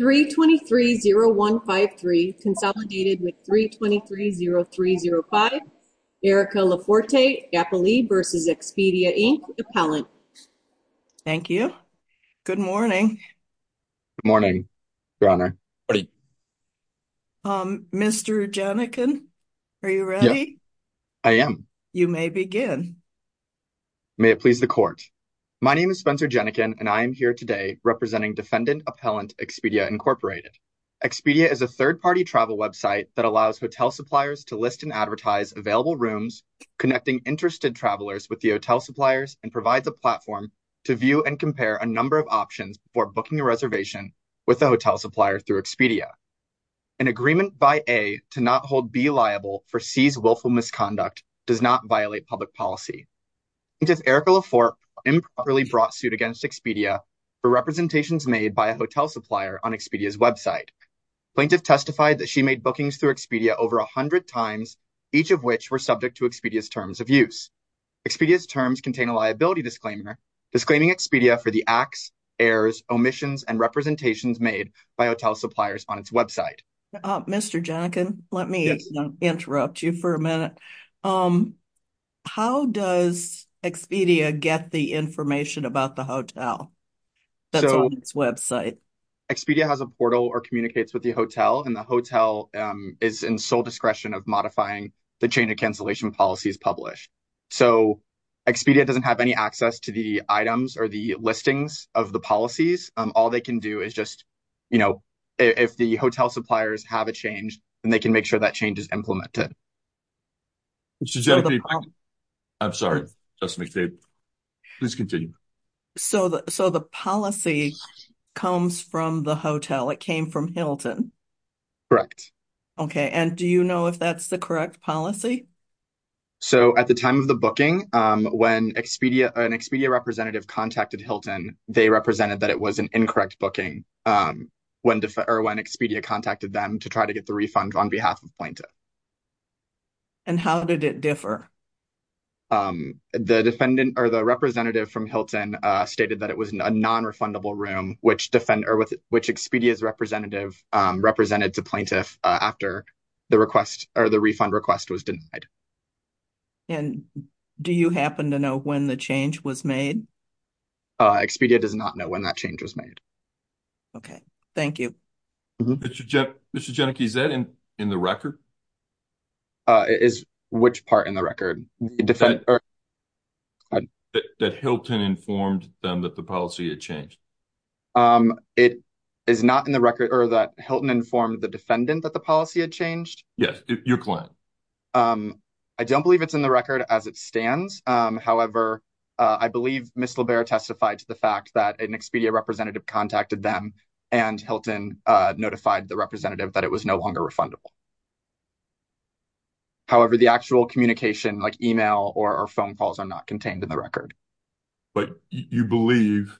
3-23-0153 consolidated with 3-23-0305. Erica LaForte, GAPLI v. Expedia, Inc., Appellant. Thank you. Good morning. Good morning, Your Honor. Good morning. Mr. Jenikin, are you ready? I am. You may begin. May it please the Court. My name is Spencer Jenikin and I am here today representing Defendant Appellant Expedia, Inc. Expedia is a third-party travel website that allows hotel suppliers to list and advertise available rooms connecting interested travelers with the hotel suppliers and provides a platform to view and compare a number of options before booking a reservation with the hotel supplier through Expedia. An agreement by A to not hold B liable for C's willful misconduct does not violate public policy. Since Erica LaForte improperly brought suit against Expedia for representations made by a hotel supplier on Expedia's website, plaintiff testified that she made bookings through Expedia over a hundred times, each of which were subject to Expedia's terms of use. Expedia's terms contain a liability disclaimer disclaiming Expedia for the acts, errors, omissions, and representations made by hotel suppliers on its information about the hotel that's on its website. Expedia has a portal or communicates with the hotel and the hotel is in sole discretion of modifying the chain of cancellation policies published. So Expedia doesn't have any access to the items or the listings of the policies. All they can do is just, you know, if the hotel suppliers have a change, then they can make that change. So the policy comes from the hotel, it came from Hilton? Correct. Okay, and do you know if that's the correct policy? So at the time of the booking, when Expedia representative contacted Hilton, they represented that it was an incorrect booking when Expedia contacted them to try to get the refund on behalf of plaintiff. And how did it differ? The defendant or the representative from Hilton stated that it was a non-refundable room which defender with which Expedia's representative represented to plaintiff after the request or the refund request was denied. And do you happen to know when the change was made? Expedia does not know when that change was made. Okay, thank you. Mr. Genachey, is that in the record? Is which part in the record? That Hilton informed them that the policy had changed? It is not in the record or that Hilton informed the defendant that the policy had changed? Yes, your client. I don't believe it's in the record as it stands. However, I believe Ms. Libera testified to the fact that an Expedia representative contacted them and Hilton notified the representative that it was no longer refundable. However, the actual communication like email or phone calls are not contained in the record. But you believe,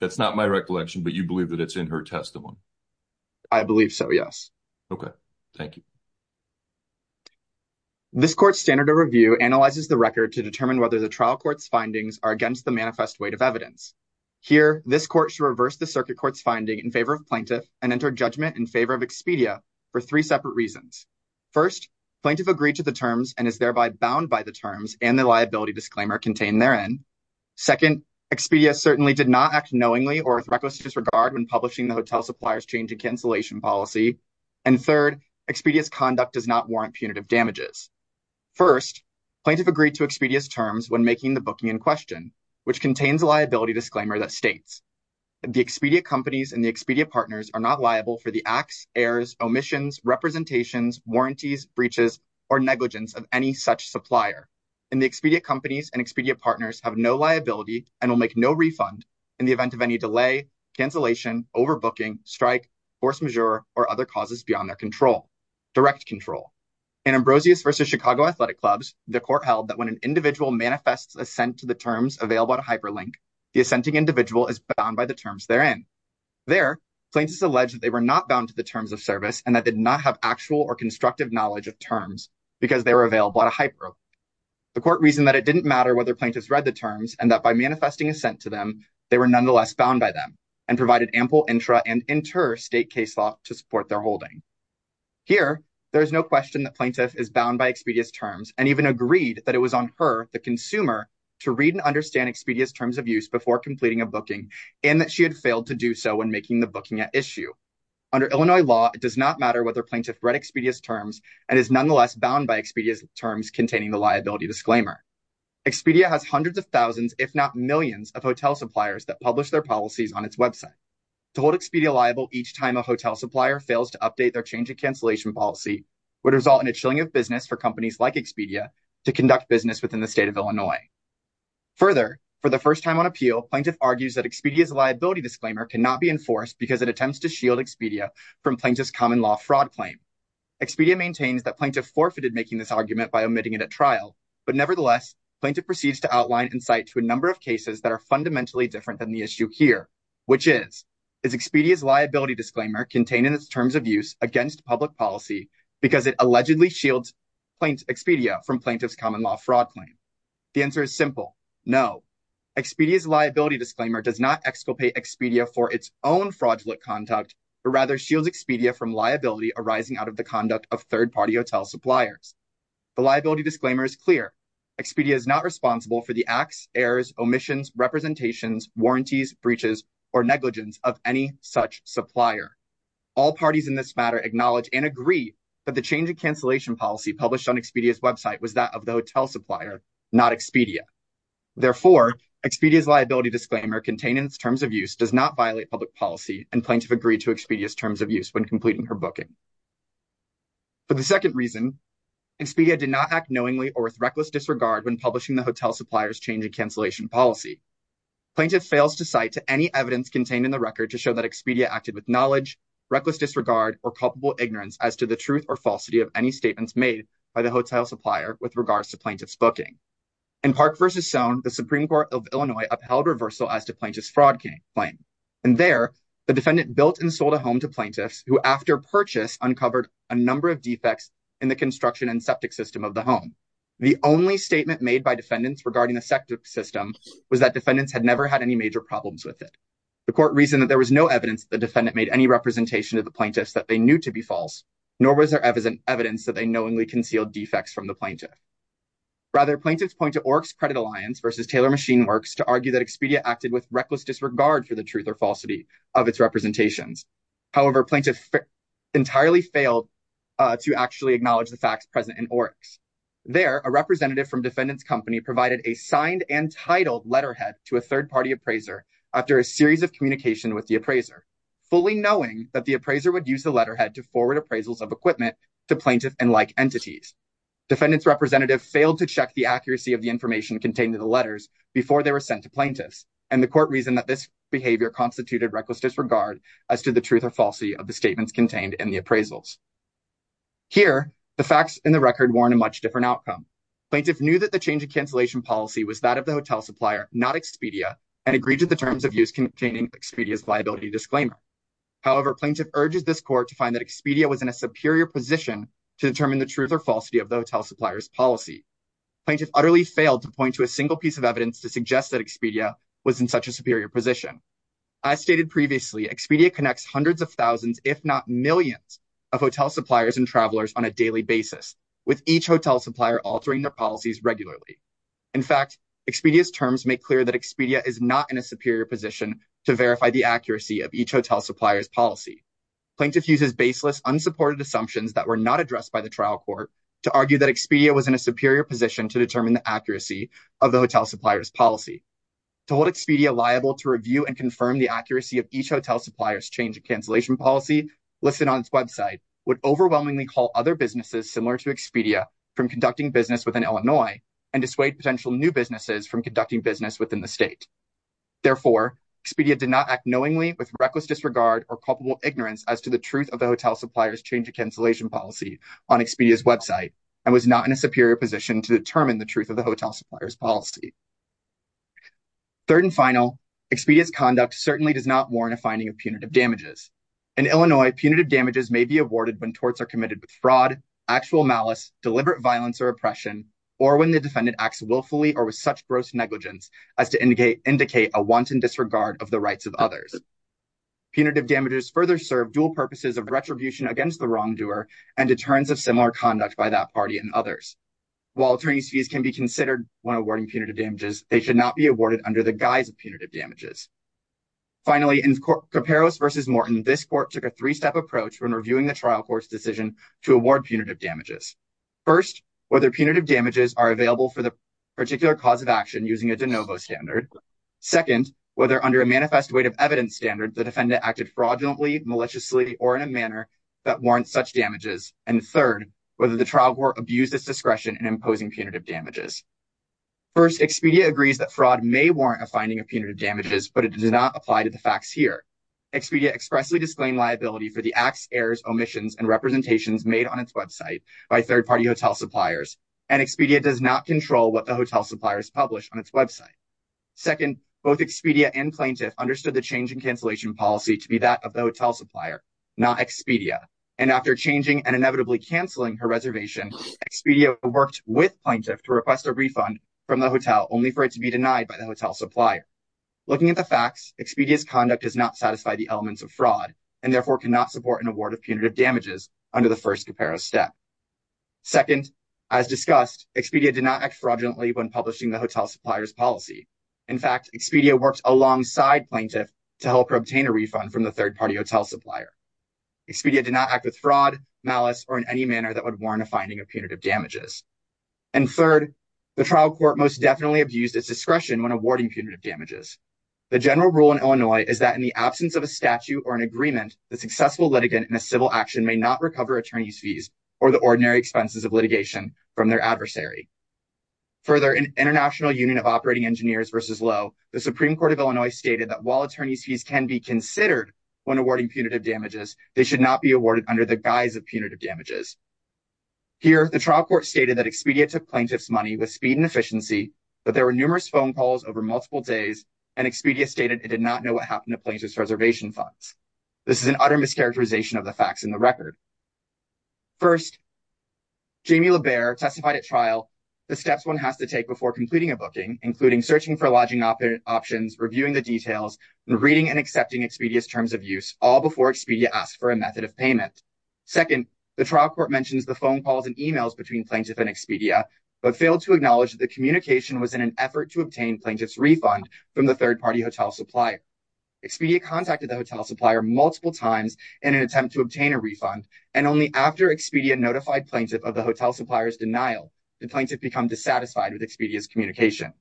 that's not my recollection, but you believe that it's in her testimony? I believe so, yes. Okay, thank you. This court's standard of review analyzes the record to determine whether the trial court's findings are against the manifest weight of evidence. Here, this court should reverse the circuit court's finding in favor of plaintiff and enter judgment in favor of Expedia for three separate reasons. First, plaintiff agreed to the terms and is thereby bound by the terms and the liability disclaimer contained therein. Second, Expedia certainly did not act knowingly or with reckless disregard when publishing the hotel supplier's change and cancellation policy. And third, Expedia's conduct does not warrant punitive damages. First, plaintiff agreed to Expedia's terms when making the booking in question, which contains a liability disclaimer that states, the Expedia companies and the Expedia partners are not liable for the acts, errors, omissions, representations, warranties, breaches, or negligence of any such supplier, and the Expedia companies and Expedia partners have no liability and will make no refund in the causes beyond their control, direct control. In Ambrosius versus Chicago Athletic Clubs, the court held that when an individual manifests assent to the terms available at a hyperlink, the assenting individual is bound by the terms therein. There, plaintiffs allege that they were not bound to the terms of service and that they did not have actual or constructive knowledge of terms because they were available at a hyperlink. The court reasoned that it didn't matter whether plaintiffs read the terms and that by manifesting assent to them, they were nonetheless bound by and provided ample intra and interstate case law to support their holding. Here, there is no question that plaintiff is bound by Expedia's terms and even agreed that it was on her, the consumer, to read and understand Expedia's terms of use before completing a booking and that she had failed to do so when making the booking at issue. Under Illinois law, it does not matter whether plaintiff read Expedia's terms and is nonetheless bound by Expedia's terms containing the liability disclaimer. Expedia has hundreds of thousands, if not millions, of hotel suppliers that publish their policies on its website. To hold Expedia liable each time a hotel supplier fails to update their change of cancellation policy would result in a chilling of business for companies like Expedia to conduct business within the state of Illinois. Further, for the first time on appeal, plaintiff argues that Expedia's liability disclaimer cannot be enforced because it attempts to shield Expedia from plaintiff's common law fraud claim. Expedia maintains that plaintiff forfeited making this argument by omitting it at trial, but nevertheless, plaintiff proceeds to outline insight to a number of cases that are fundamentally different than the issue here, which is, is Expedia's liability disclaimer contained in its terms of use against public policy because it allegedly shields Expedia from plaintiff's common law fraud claim? The answer is simple. No. Expedia's liability disclaimer does not exculpate Expedia for its own fraudulent conduct, but rather shields Expedia from liability arising out of the conduct of third-party hotel suppliers. The liability disclaimer is clear. Expedia is responsible for the acts, errors, omissions, representations, warranties, breaches, or negligence of any such supplier. All parties in this matter acknowledge and agree that the change of cancellation policy published on Expedia's website was that of the hotel supplier, not Expedia. Therefore, Expedia's liability disclaimer contained in its terms of use does not violate public policy, and plaintiff agreed to Expedia's terms of use when completing her booking. For the second reason, Expedia did not act knowingly or with reckless disregard when publishing the hotel supplier's change in cancellation policy. Plaintiff fails to cite to any evidence contained in the record to show that Expedia acted with knowledge, reckless disregard, or culpable ignorance as to the truth or falsity of any statements made by the hotel supplier with regards to plaintiff's booking. In Park v. Soane, the Supreme Court of Illinois upheld reversal as to plaintiff's fraud claim, and there, the defendant built and sold a home to plaintiffs who, after purchase, uncovered a number of defects in the construction and septic system of the home. The only statement made by defendants regarding the septic system was that defendants had never had any major problems with it. The court reasoned that there was no evidence that the defendant made any representation of the plaintiffs that they knew to be false, nor was there evidence that they knowingly concealed defects from the plaintiff. Rather, plaintiffs point to Oryx Credit Alliance v. Taylor Machine Works to argue that Expedia acted with reckless disregard for the truth or falsity of its representations. However, plaintiffs entirely failed to actually a representative from defendant's company provided a signed and titled letterhead to a third-party appraiser after a series of communication with the appraiser, fully knowing that the appraiser would use the letterhead to forward appraisals of equipment to plaintiff and like entities. Defendant's representative failed to check the accuracy of the information contained in the letters before they were sent to plaintiffs, and the court reasoned that this behavior constituted reckless disregard as to the truth or falsity of the statements contained in the appraisals. Here, the facts in the record warn a much different outcome. Plaintiff knew that the change in cancellation policy was that of the hotel supplier, not Expedia, and agreed to the terms of use containing Expedia's liability disclaimer. However, plaintiff urges this court to find that Expedia was in a superior position to determine the truth or falsity of the hotel supplier's policy. Plaintiff utterly failed to point to a single piece of evidence to suggest that Expedia was in such a superior position. As stated previously, Expedia connects hundreds of thousands, if not millions, of hotel suppliers and travelers on a daily basis, with each hotel supplier altering their policies regularly. In fact, Expedia's terms make clear that Expedia is not in a superior position to verify the accuracy of each hotel supplier's policy. Plaintiff uses baseless, unsupported assumptions that were not addressed by the trial court to argue that Expedia was in a superior position to determine the accuracy of the hotel supplier's policy. To hold Expedia liable to review and confirm the accuracy of each hotel supplier's cancellation policy listed on its website would overwhelmingly call other businesses similar to Expedia from conducting business within Illinois and dissuade potential new businesses from conducting business within the state. Therefore, Expedia did not act knowingly with reckless disregard or culpable ignorance as to the truth of the hotel supplier's change of cancellation policy on Expedia's website and was not in a superior position to determine the truth of the hotel supplier's policy. Third and final, Expedia's conduct certainly does not warrant a finding of punitive damages. In Illinois, punitive damages may be awarded when torts are committed with fraud, actual malice, deliberate violence or oppression, or when the defendant acts willfully or with such gross negligence as to indicate a wanton disregard of the rights of others. Punitive damages further serve dual purposes of retribution against the wrongdoer and deterrence of similar conduct by that party and others. While attorney's fees can be considered when awarding punitive damages. Finally, in Kouperos versus Morton, this court took a three-step approach when reviewing the trial court's decision to award punitive damages. First, whether punitive damages are available for the particular cause of action using a de novo standard. Second, whether under a manifest way of evidence standard the defendant acted fraudulently, maliciously, or in a manner that warrants such damages. And third, whether the trial court abused its discretion in imposing but it does not apply to the facts here. Expedia expressly disclaimed liability for the acts, errors, omissions, and representations made on its website by third-party hotel suppliers, and Expedia does not control what the hotel suppliers publish on its website. Second, both Expedia and Plaintiff understood the change in cancellation policy to be that of the hotel supplier, not Expedia, and after changing and inevitably canceling her reservation, Expedia worked with Plaintiff to request a refund from the hotel only for it to be denied by the hotel supplier. Looking at the facts, Expedia's conduct does not satisfy the elements of fraud and therefore cannot support an award of punitive damages under the first Kouperos step. Second, as discussed, Expedia did not act fraudulently when publishing the hotel supplier's policy. In fact, Expedia worked alongside Plaintiff to help her obtain a refund from the third-party hotel supplier. Expedia did not act with fraud, malice, or in any court most definitely abused its discretion when awarding punitive damages. The general rule in Illinois is that in the absence of a statute or an agreement, the successful litigant in a civil action may not recover attorney's fees or the ordinary expenses of litigation from their adversary. Further, in International Union of Operating Engineers versus Lowe, the Supreme Court of Illinois stated that while attorney's fees can be considered when awarding punitive damages, they should not be awarded under the guise of punitive damages. Here, the trial court stated that Expedia took Plaintiff's money with speed and efficiency, but there were numerous phone calls over multiple days, and Expedia stated it did not know what happened to Plaintiff's reservation funds. This is an utter mischaracterization of the facts in the record. First, Jamie LaBaer testified at trial the steps one has to take before completing a booking, including searching for lodging options, reviewing the details, and reading and accepting Expedia's terms of use, all before Expedia asked for a method of payment. Second, the trial court mentions the phone calls and emails between Plaintiff and Expedia, but failed to acknowledge that the communication was in an effort to obtain Plaintiff's refund from the third-party hotel supplier. Expedia contacted the hotel supplier multiple times in an attempt to obtain a refund, and only after Expedia notified Plaintiff of the hotel supplier's denial did Plaintiff become dissatisfied with Expedia's communication.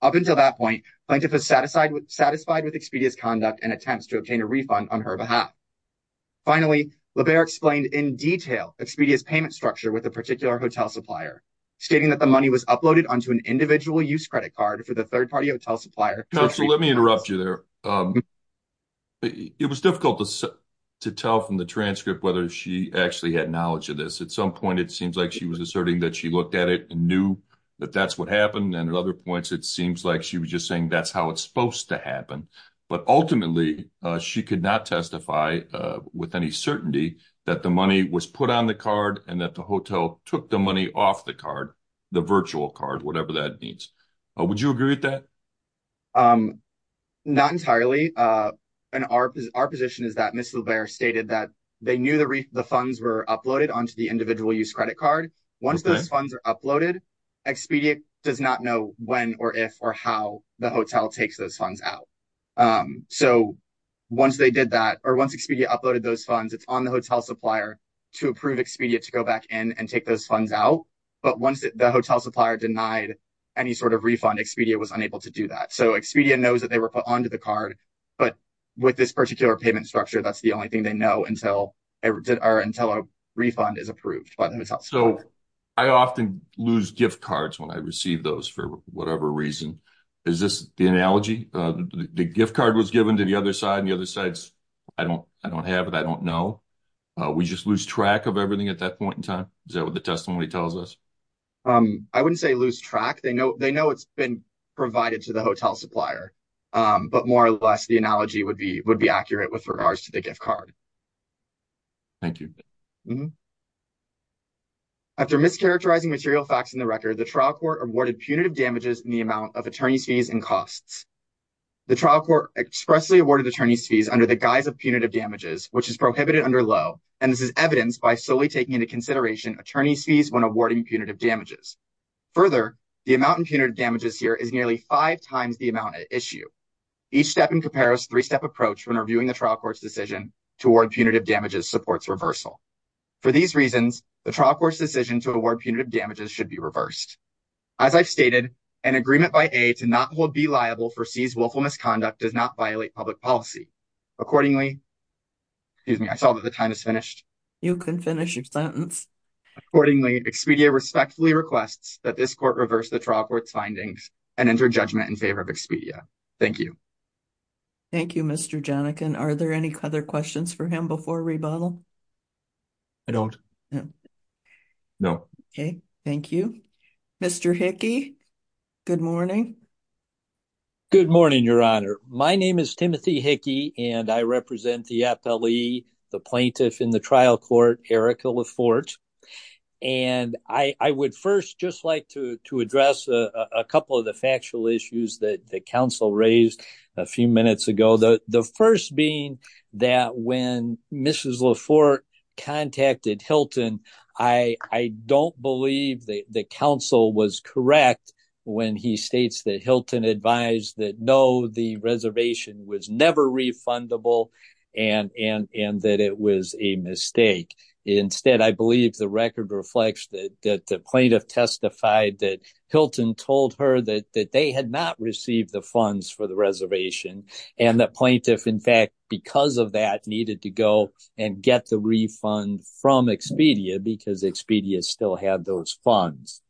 Up until that point, Plaintiff was satisfied with Expedia's conduct and attempts to obtain a refund on her behalf. Finally, LaBaer explained in detail Expedia's payment structure with a particular hotel supplier, stating that the money was uploaded onto an individual use credit card for the third-party hotel supplier. So let me interrupt you there. It was difficult to tell from the transcript whether she actually had knowledge of this. At some point, it seems like she was asserting that she looked at it and knew that that's what happened, and at other points, it seems like she was just saying that's how it's supposed to happen. But ultimately, she could not testify with any certainty that the money was put on the card and that the hotel took the money off the card, the virtual card, whatever that means. Would you agree with that? Not entirely, and our position is that Ms. LaBaer stated that they knew the funds were uploaded onto the individual use credit card. Once those funds are uploaded, Expedia does not know when or if or how the hotel takes those funds out. So once they did that, or once Expedia uploaded those funds, it's on the hotel supplier to approve Expedia to go back in and take those funds out. But once the hotel supplier denied any sort of refund, Expedia was unable to do that. So Expedia knows that they were put onto the card, but with this particular payment structure, that's the only thing they know until a refund is approved by the hotel supplier. So I often lose gift cards when I receive those for whatever reason. Is this the analogy? The gift card was given to the other side, and the other side's, I don't have it, I don't know. We just lose track of everything at that point in time? Is that what the testimony tells us? I wouldn't say lose track. They know it's been provided to the hotel supplier. But more or less, the analogy would be accurate with regards to the gift card. Thank you. After mischaracterizing material facts in the record, the trial court awarded punitive damages in the amount of attorney's fees and costs. The trial court expressly awarded attorney's fees under the guise of punitive damages, which is prohibited under Lowe, and this is evidenced by solely taking into consideration attorney's fees when awarding punitive damages. Further, the amount in punitive damages here is nearly five times the amount at issue. Each step in Caparo's three-step approach when reviewing the trial court's decision to award punitive damages supports reversal. For these reasons, the trial court's decision to award punitive damages should be reversed. As I've stated, an agreement by A to not hold B liable for C's willful misconduct does not violate public policy. Accordingly, excuse me, I saw that the time is finished. You can finish your sentence. Accordingly, Expedia respectfully requests that this court reverse the trial court's findings and enter judgment in favor of Expedia. Thank you. Thank you. Mr. Hickey, good morning. Good morning, Your Honor. My name is Timothy Hickey, and I represent the FLE, the plaintiff in the trial court, Erica Laforte, and I would first just like to address a couple of the factual issues that the counsel raised a few minutes ago. The first being that when Mrs. Laforte contacted Hilton, I don't believe that the counsel was correct when he states that Hilton advised that no, the reservation was never refundable, and that it was a mistake. Instead, I believe the record reflects that the plaintiff testified that Hilton told her that they had not received the funds for the reservation, and the plaintiff, in fact, because of that, needed to go and get the refund from Expedia because Expedia still had those funds.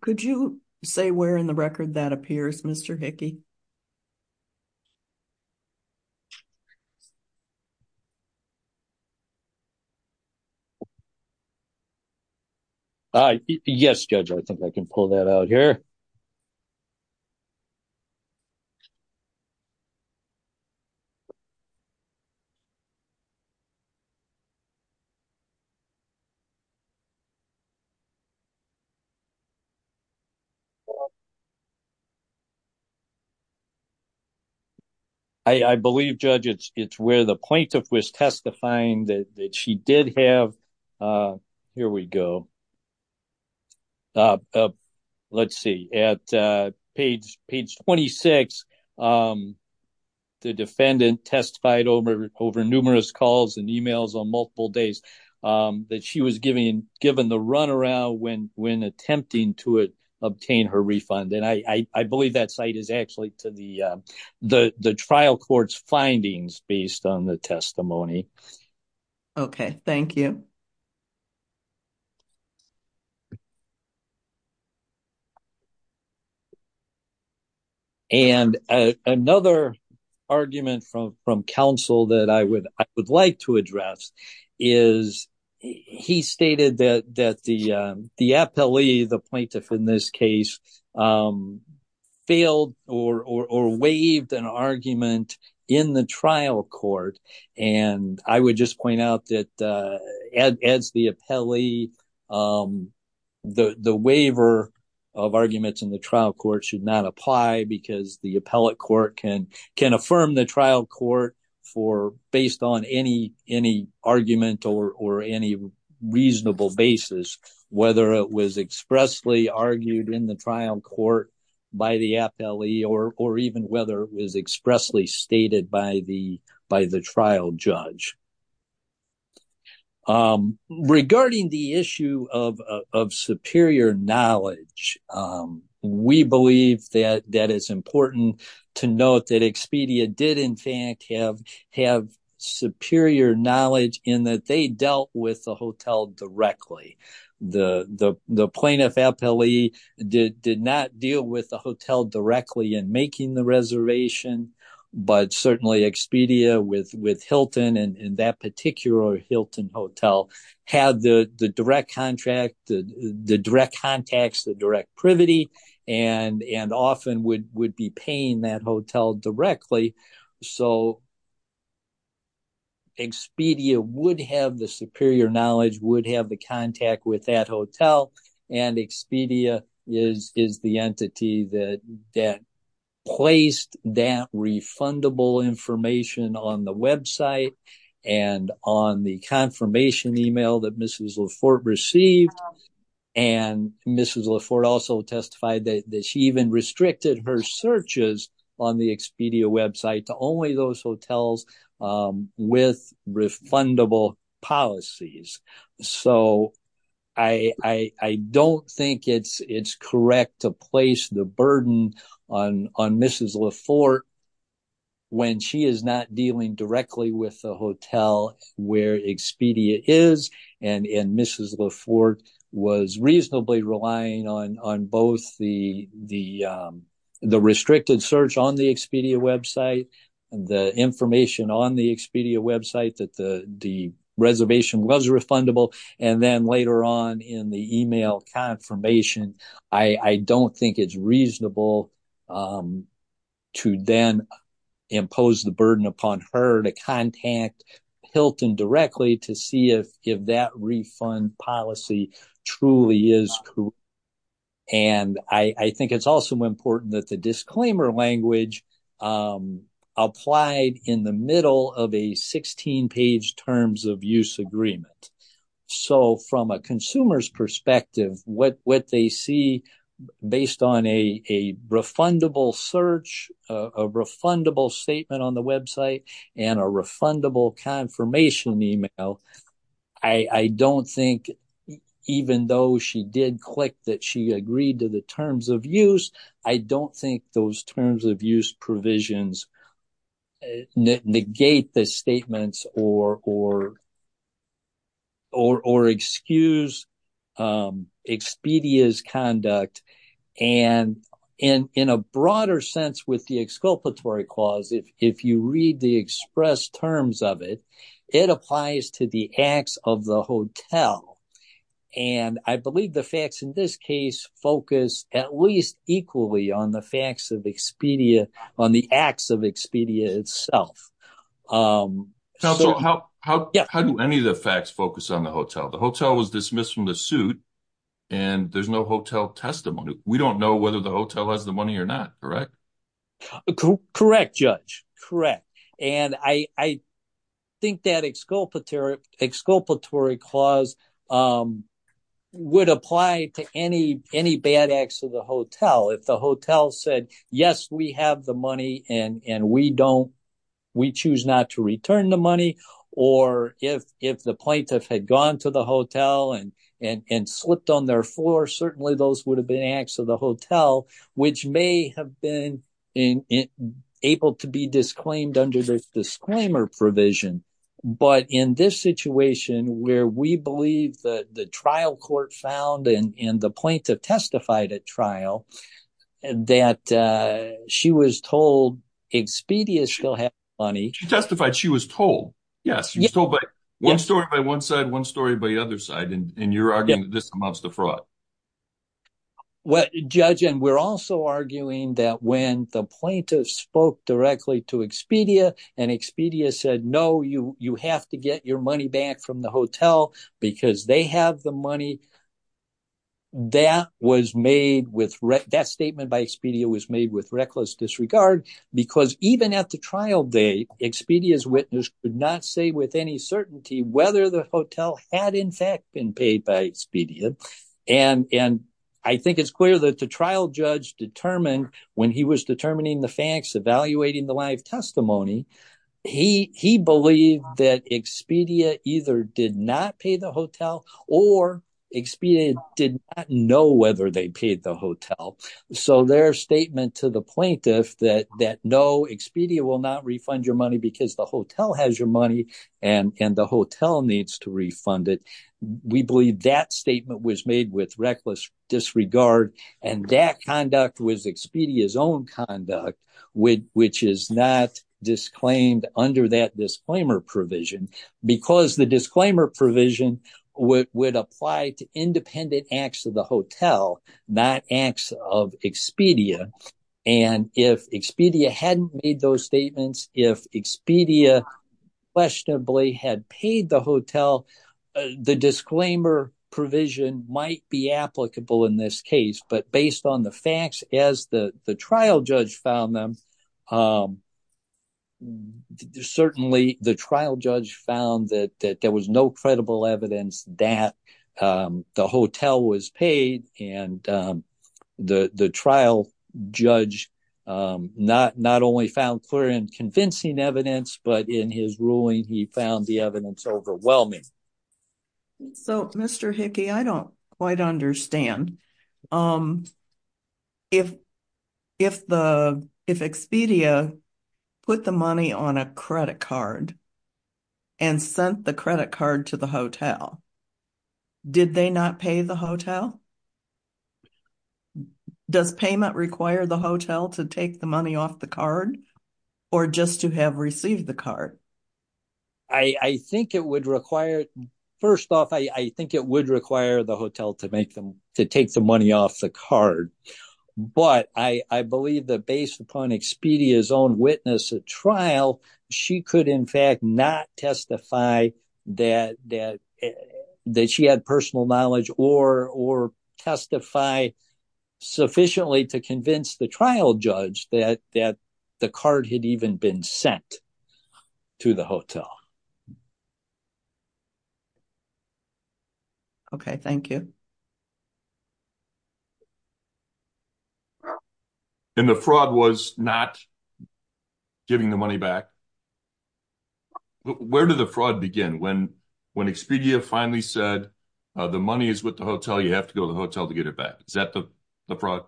Could you say where in the record that appears, Mr. Hickey? All right. Yes, Judge, I think I can pull that out here. Okay. I believe, Judge, it's where the plaintiff was testifying that she did have, here we go, let's see, at page 26, the defendant testified over numerous calls and emails on multiple days that she was given the runaround when attempting to obtain her refund, and I believe that site is actually to the trial court's findings based on the testimony. Okay. Thank you. And another argument from counsel that I would like to address is he stated that the plaintiff in this case failed or waived an argument in the trial court, and I would just point out that as the appellee, the waiver of arguments in the trial court should not apply because the appellate court can affirm the trial court based on any argument or any expressly argued in the trial court by the appellee or even whether it was expressly stated by the trial judge. Regarding the issue of superior knowledge, we believe that it's important to note that Expedia did, in fact, have superior knowledge in that they dealt with the hotel directly. The plaintiff appellee did not deal with the hotel directly in making the reservation, but certainly Expedia with Hilton and that particular Hilton hotel had the direct contract, the direct contacts, the direct privity, and often would be paying that hotel directly, so have the contact with that hotel, and Expedia is the entity that placed that refundable information on the website and on the confirmation email that Mrs. Laforte received, and Mrs. Laforte also testified that she even restricted her searches on the Expedia website to only those hotels with refundable policies, so I don't think it's correct to place the burden on Mrs. Laforte when she is not dealing directly with the hotel where Expedia is, and Mrs. Laforte was reasonably relying on both the restricted search on the Expedia website and the information on the Expedia website that the reservation was refundable, and then later on in the email confirmation, I don't think it's reasonable to then impose the burden upon her to truly is correct, and I think it's also important that the disclaimer language applied in the middle of a 16-page terms of use agreement, so from a consumer's perspective, what they see based on a refundable search, a refundable statement on the website, and a refundable confirmation email, I don't think even though she did click that she agreed to the terms of use, I don't think those terms of use provisions negate the statements or excuse Expedia's conduct, and in a broader sense with the exculpatory clause, if you read the express terms of it, it applies to the acts of the hotel, and I believe the facts in this case focus at least equally on the facts of Expedia, on the acts of Expedia itself. So how do any of the facts focus on the hotel? The hotel was dismissed from the suit, and there's no hotel testimony. We don't know whether the hotel has the money or not, correct? Correct, Judge, correct, and I think that exculpatory clause would apply to any bad acts of the hotel. If the hotel said, yes, we have the money and we choose not to return the money, or if the plaintiff had gone to the hotel and slipped on their floor, certainly those would have been acts of the hotel, which may have been able to be disclaimed under this disclaimer provision, but in this situation where we believe that the trial court found and the plaintiff testified at trial that she was told Expedia still had money. She testified she was told, yes, she was told by one story by one side, one story by the other side, and you're arguing that this amounts to fraud. Well, Judge, and we're also arguing that when the plaintiff spoke directly to Expedia and Expedia said, no, you have to get your money back from the hotel because they have the money. That statement by Expedia was made with reckless disregard because even at the trial date, Expedia's witness could not say with any certainty whether the hotel had in fact been paid by Expedia, and I think it's clear that the trial judge determined when he was determining the facts, evaluating the live testimony, he believed that Expedia either did not pay the hotel or Expedia did not know whether they paid the hotel. So their statement to the plaintiff that no, Expedia will not refund your money because the hotel has your money and the hotel needs to refund it. We believe that statement was made with reckless disregard and that conduct was Expedia's own conduct, which is not disclaimed under that disclaimer provision because the would apply to independent acts of the hotel, not acts of Expedia, and if Expedia hadn't made those statements, if Expedia questionably had paid the hotel, the disclaimer provision might be applicable in this case, but based on the facts as the trial judge found them, certainly the trial judge found that there was no credible evidence that the hotel was paid, and the trial judge not only found clear and convincing evidence, but in his ruling, he found the evidence overwhelming. So Mr. Hickey, I don't quite understand. If Expedia put the money on a credit card and sent the credit card to the hotel, did they not pay the hotel? Does payment require the hotel to take the money off the card or just to have received the card? I think it would require, first off, I think it would require the hotel to take the money off the card, but I believe that based upon Expedia's own witness at trial, she could in fact not testify that she had personal knowledge or testify sufficiently to convince the trial judge that the card had even been sent to the hotel. Okay, thank you. And the fraud was not giving the money back. Where did the fraud begin when Expedia finally said the money is with the hotel, you have to go to the hotel to get it back? Is that the fraud?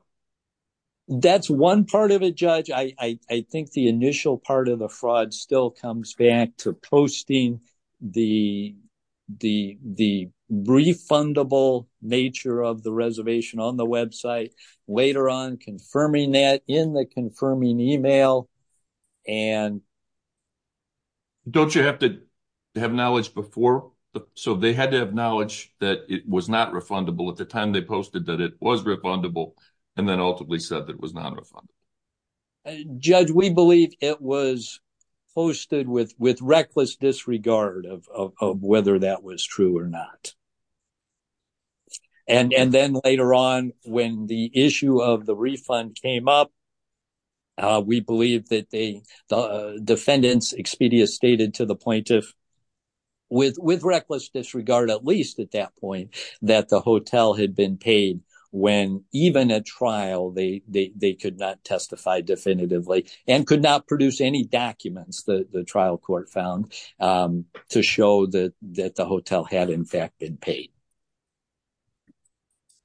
That's one part of it, Judge. I think the initial part of the fraud still comes back to posting the refundable nature of the reservation on the website, later on confirming that in the confirming email. And don't you have to have knowledge before? So they had to have knowledge that it was not refundable at the time they posted that it was refundable, and then ultimately said that it was not refundable. Judge, we believe it was posted with reckless disregard of whether that was true or not. And then later on, when the issue of the refund came up, we believe that the defendants, Expedia stated to the plaintiff, with reckless disregard, at least at that point, that the hotel had been paid when even at trial, they could not testify definitively and could not produce any documents that the trial court found to show that the hotel had in fact been paid.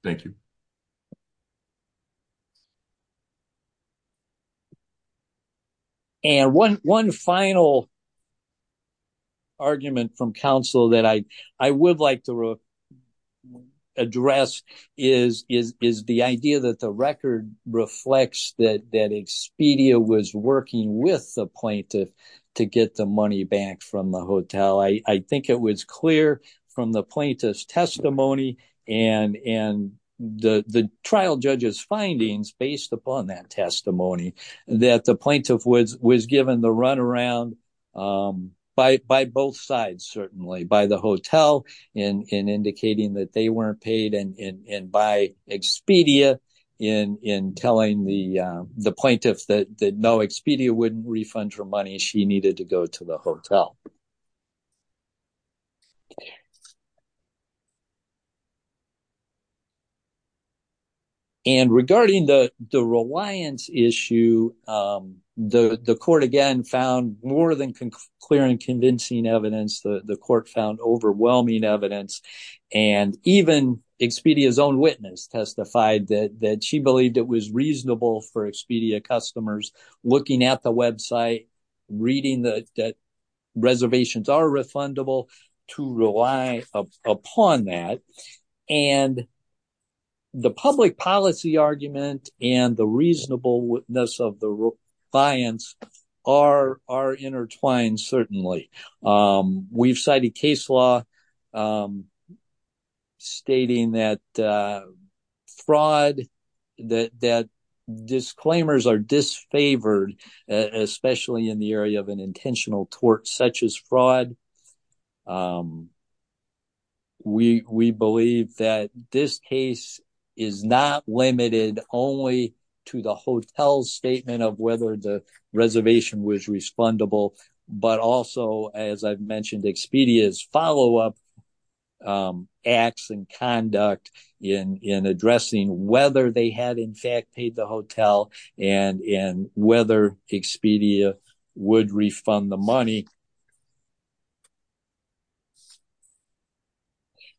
Thank you. And one final argument from counsel that I would like to address is the idea that the record reflects that Expedia was working with the plaintiff to get the money back from the hotel. I think it was clear from the plaintiff's testimony and the trial judge's findings based upon that testimony that the plaintiff was given the runaround by both sides, certainly, by the hotel in indicating that they weren't paid and by Expedia in telling the plaintiff that no, she needed to go to the hotel. And regarding the reliance issue, the court, again, found more than clear and convincing evidence. The court found overwhelming evidence. And even Expedia's own witness testified that she believed it was reasonable for Expedia customers looking at the website, reading that reservations are refundable to rely upon that. And the public policy argument and the reasonable witness of the reliance are intertwined, certainly. We've cited case law stating that fraud, that disclaimers are disfavored, especially in the area of an intentional tort such as fraud. We believe that this case is not limited only to the hotel's statement of whether the reservation was respondable, but also, as I've mentioned, Expedia's follow-up acts and conduct in addressing whether they had, in fact, paid the hotel and whether Expedia would refund the money.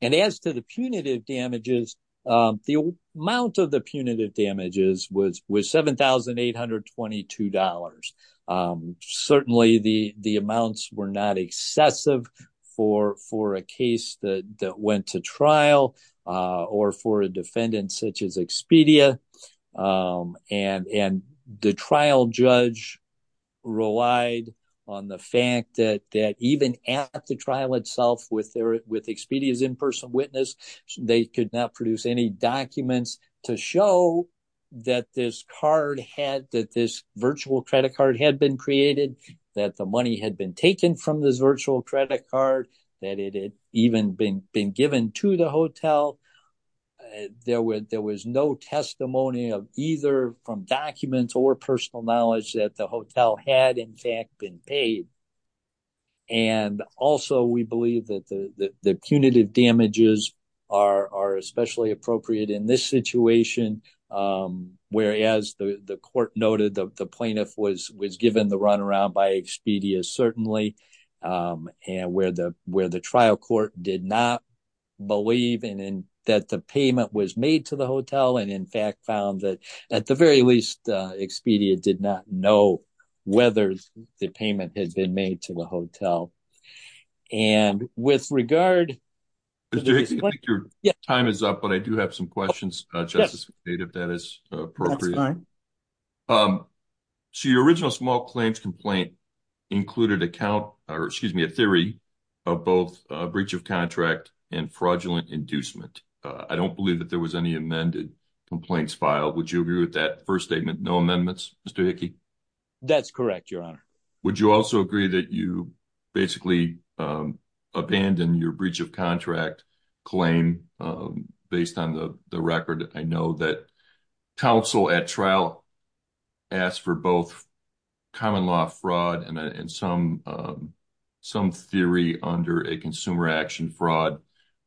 And as to the punitive damages, the amount of the punitive damages was $7,822. Certainly, the amounts were not excessive for a case that went to trial or for a defendant such as Expedia. And the trial judge relied on the fact that even at the trial itself with Expedia's in-person witness, they could not produce any documents to show that this card had, that this virtual credit card had been created, that the money had been taken from this virtual credit card, that it had even been given to the hotel. There was no testimony of either from documents or personal knowledge that the hotel had, in fact, been paid. And also, we believe that the punitive damages are especially appropriate in this situation, where, as the court noted, the plaintiff was given the runaround by Expedia, certainly, and where the trial court did not believe that the payment was made to the hotel and, in fact, found that, at the very least, Expedia did not know whether the payment had been made to the hotel. And with regard... Mr. Hickey, I think your time is up, but I do have some questions, Justice, if that is appropriate. So your original small claims complaint included a count, or excuse me, a theory of both breach of contract and fraudulent inducement. I don't believe that there was any amended complaints filed. Would you agree with that first statement, no amendments, Mr. Hickey? That's correct, Your Honor. Would you also agree that you basically abandoned your breach of contract claim based on the record? I know that counsel at trial asked for both common law fraud and some theory under a consumer action fraud,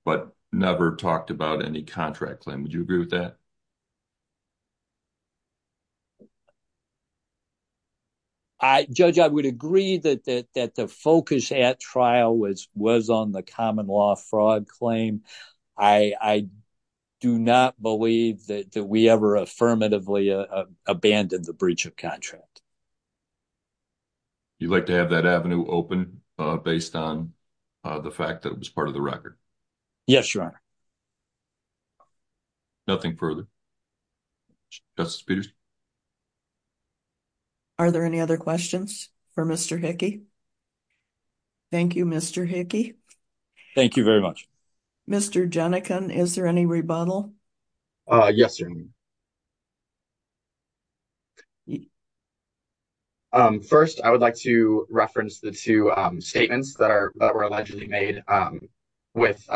but never talked about any contract claim. Would I... Judge, I would agree that the focus at trial was on the common law fraud claim. I do not believe that we ever affirmatively abandoned the breach of contract. You'd like to have that avenue open based on the fact that it was part of the record? Yes, Your Honor. Nothing further? Justice Peterson? Are there any other questions for Mr. Hickey? Thank you, Mr. Hickey. Thank you very much. Mr. Jenikin, is there any rebuttal? Yes, Your Honor. First, I would like to reference the two statements that were allegedly made with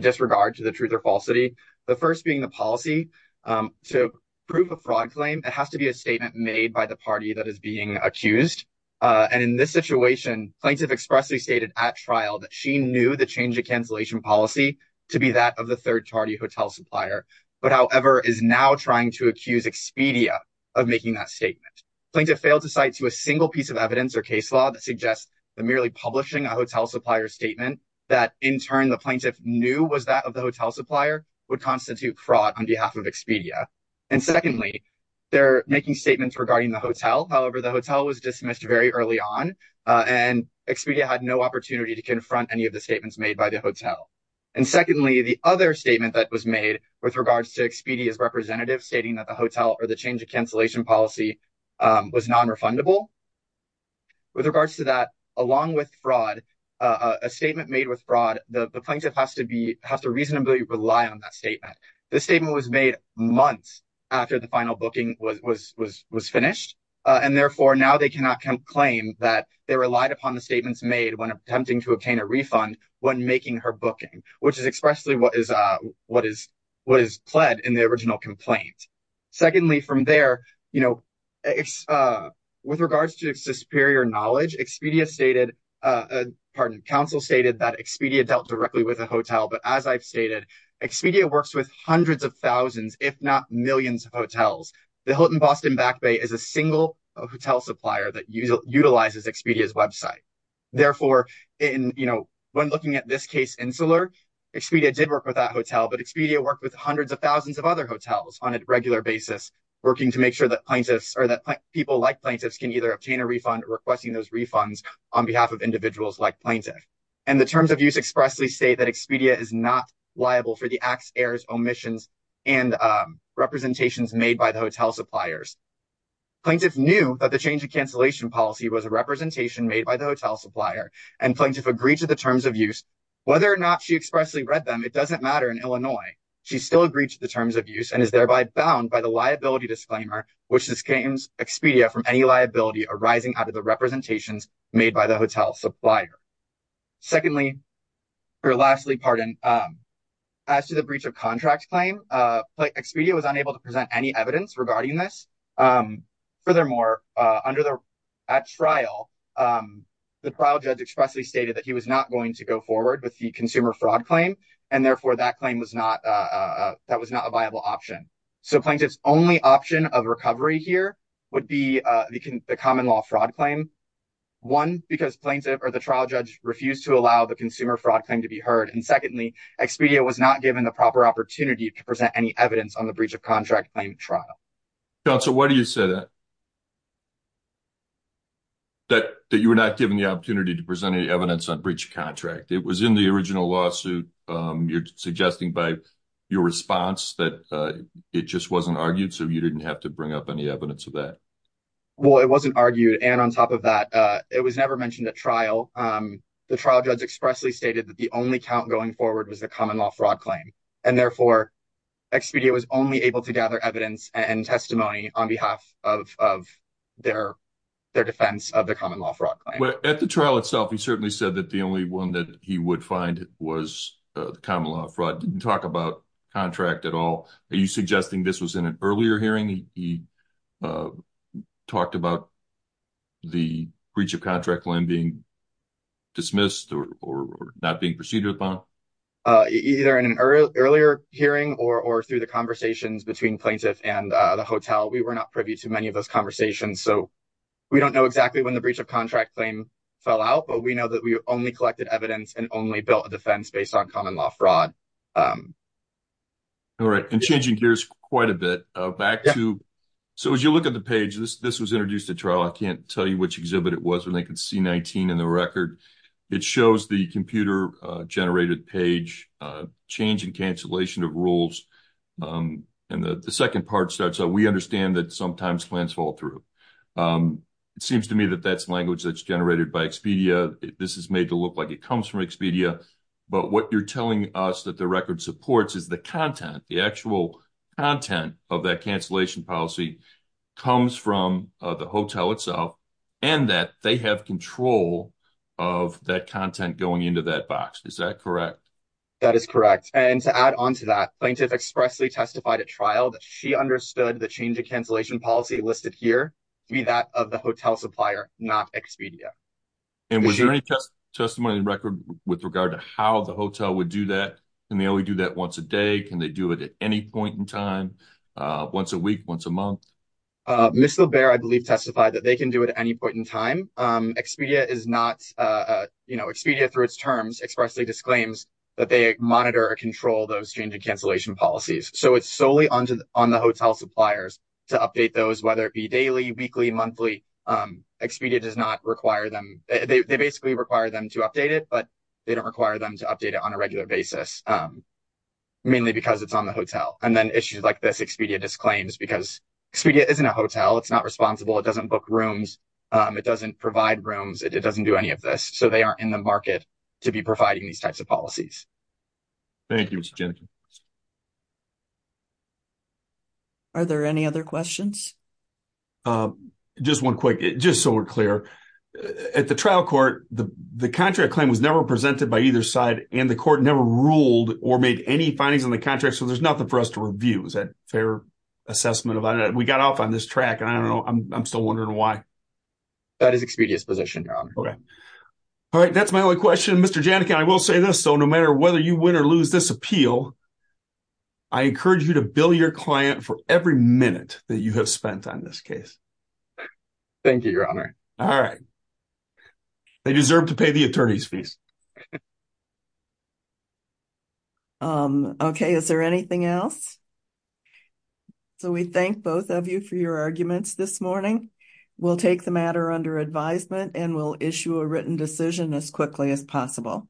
disregard to the truth or falsity. The first being the policy. To prove a fraud claim, it has to be a statement made by the party that is being accused. And in this situation, plaintiff expressly stated at trial that she knew the change of cancellation policy to be that of the third party hotel supplier, but however, is now trying to accuse Expedia of making that statement. Plaintiff failed to cite to a single piece of evidence or case law that suggests that merely publishing a hotel supplier statement that in turn the plaintiff knew was that of the hotel supplier would constitute fraud on behalf of Expedia. And secondly, they're making statements regarding the hotel. However, the hotel was dismissed very early on, and Expedia had no opportunity to confront any of the statements made by the hotel. And secondly, the other statement that was made with regards to Expedia's representative stating that the hotel or the change of cancellation policy was non-refundable. With regards to that, along with fraud, a statement made with fraud, the plaintiff has to reasonably rely on that statement. This statement was made months after the final booking was finished, and therefore now they cannot claim that they relied upon the statements made when attempting to obtain a refund when making her booking, which is expressly what is pled in the original complaint. Secondly, from there, with regards to superior knowledge, Expedia stated, pardon, counsel stated that Expedia dealt directly with a hotel. But as I've stated, Expedia works with hundreds of thousands, if not millions of hotels. The Hilton Boston Back Bay is a single hotel supplier that utilizes Expedia's website. Therefore, in, you know, when looking at this case, Insular, Expedia did work with that hotel, but Expedia worked with hundreds of thousands of other hotels on a regular basis, working to make sure that people like plaintiffs can either obtain a refund or requesting those refunds on behalf of individuals like plaintiff. And the terms of use expressly say that Expedia is not liable for the acts, errors, omissions, and representations made by the hotel suppliers. Plaintiff knew that the change of cancellation policy was a representation made by the hotel supplier, and plaintiff agreed to the terms of use. Whether or not she expressly read them, it doesn't matter in Illinois. She still agrees to the terms of use and is thereby bound by the liability disclaimer, which disclaims Expedia from any liability arising out of the representations made by the hotel supplier. Secondly, or lastly, pardon, as to the breach of contract claim, Expedia was unable to present any evidence regarding this. Furthermore, under the, at trial, the trial judge expressly stated that he was not going to go to trial. That was not a viable option. So plaintiff's only option of recovery here would be the common law fraud claim. One, because plaintiff or the trial judge refused to allow the consumer fraud claim to be heard. And secondly, Expedia was not given the proper opportunity to present any evidence on the breach of contract claim trial. Counsel, why do you say that? That you were not given the opportunity to present any evidence on breach of contract. It was in the response that it just wasn't argued. So you didn't have to bring up any evidence of that. Well, it wasn't argued. And on top of that, it was never mentioned at trial. The trial judge expressly stated that the only count going forward was the common law fraud claim. And therefore, Expedia was only able to gather evidence and testimony on behalf of their defense of the common law fraud. At the trial itself, he certainly said that the only one that he would find was the common law fraud. Didn't talk about contract at all. Are you suggesting this was in an earlier hearing? He talked about the breach of contract claim being dismissed or not being proceeded upon? Either in an earlier hearing or through the conversations between plaintiff and the hotel, we were not privy to many of those conversations. So we don't know exactly when the breach of contract claim fell out, but we know that we only collected evidence and only built a defense based on common law fraud. All right. And changing gears quite a bit back to. So as you look at the page, this was introduced at trial. I can't tell you which exhibit it was when they could see 19 in the record. It shows the computer generated page change and cancellation of rules. And the second part starts out. We understand that sometimes plans fall through. It seems to me that that's language that's generated by Expedia. This is made to look like it comes from Expedia. But what you're telling us that the record supports is the content, the actual content of that cancellation policy comes from the hotel itself and that they have control of that content going into that box. Is that correct? That is correct. And to add on to that, plaintiff expressly testified at trial that she understood the change of cancellation policy listed here to be that of the hotel supplier, not Expedia. And was there any testimony in record with regard to how the hotel would do that? And they only do that once a day. Can they do it at any point in time, once a week, once a month? Mr. Bear, I believe, testified that they can do it at any point in time. Expedia is not Expedia through its terms expressly disclaims that they monitor or control those changing cancellation policies. So it's solely on the hotel suppliers to update those, whether it be daily, weekly, monthly. Expedia does not require them. They require them to update it, but they don't require them to update it on a regular basis, mainly because it's on the hotel. And then issues like this, Expedia disclaims because Expedia isn't a hotel. It's not responsible. It doesn't book rooms. It doesn't provide rooms. It doesn't do any of this. So they aren't in the market to be providing these types of policies. Thank you, Mr. Jenkins. Are there any other questions? Um, just one quick, just so we're clear. At the trial court, the contract claim was never presented by either side and the court never ruled or made any findings on the contract. So there's nothing for us to review. Is that fair assessment of that? We got off on this track and I don't know. I'm still wondering why. That is Expedia's position, Your Honor. Okay. All right. That's my only question. Mr. Janneke, I will say this. So no matter whether you win or lose this appeal, I encourage you to bill your client for every minute that you have on this case. Thank you, Your Honor. All right. They deserve to pay the attorney's fees. Um, okay. Is there anything else? So we thank both of you for your arguments this morning. We'll take the matter under advisement and we'll issue a written decision as quickly as possible.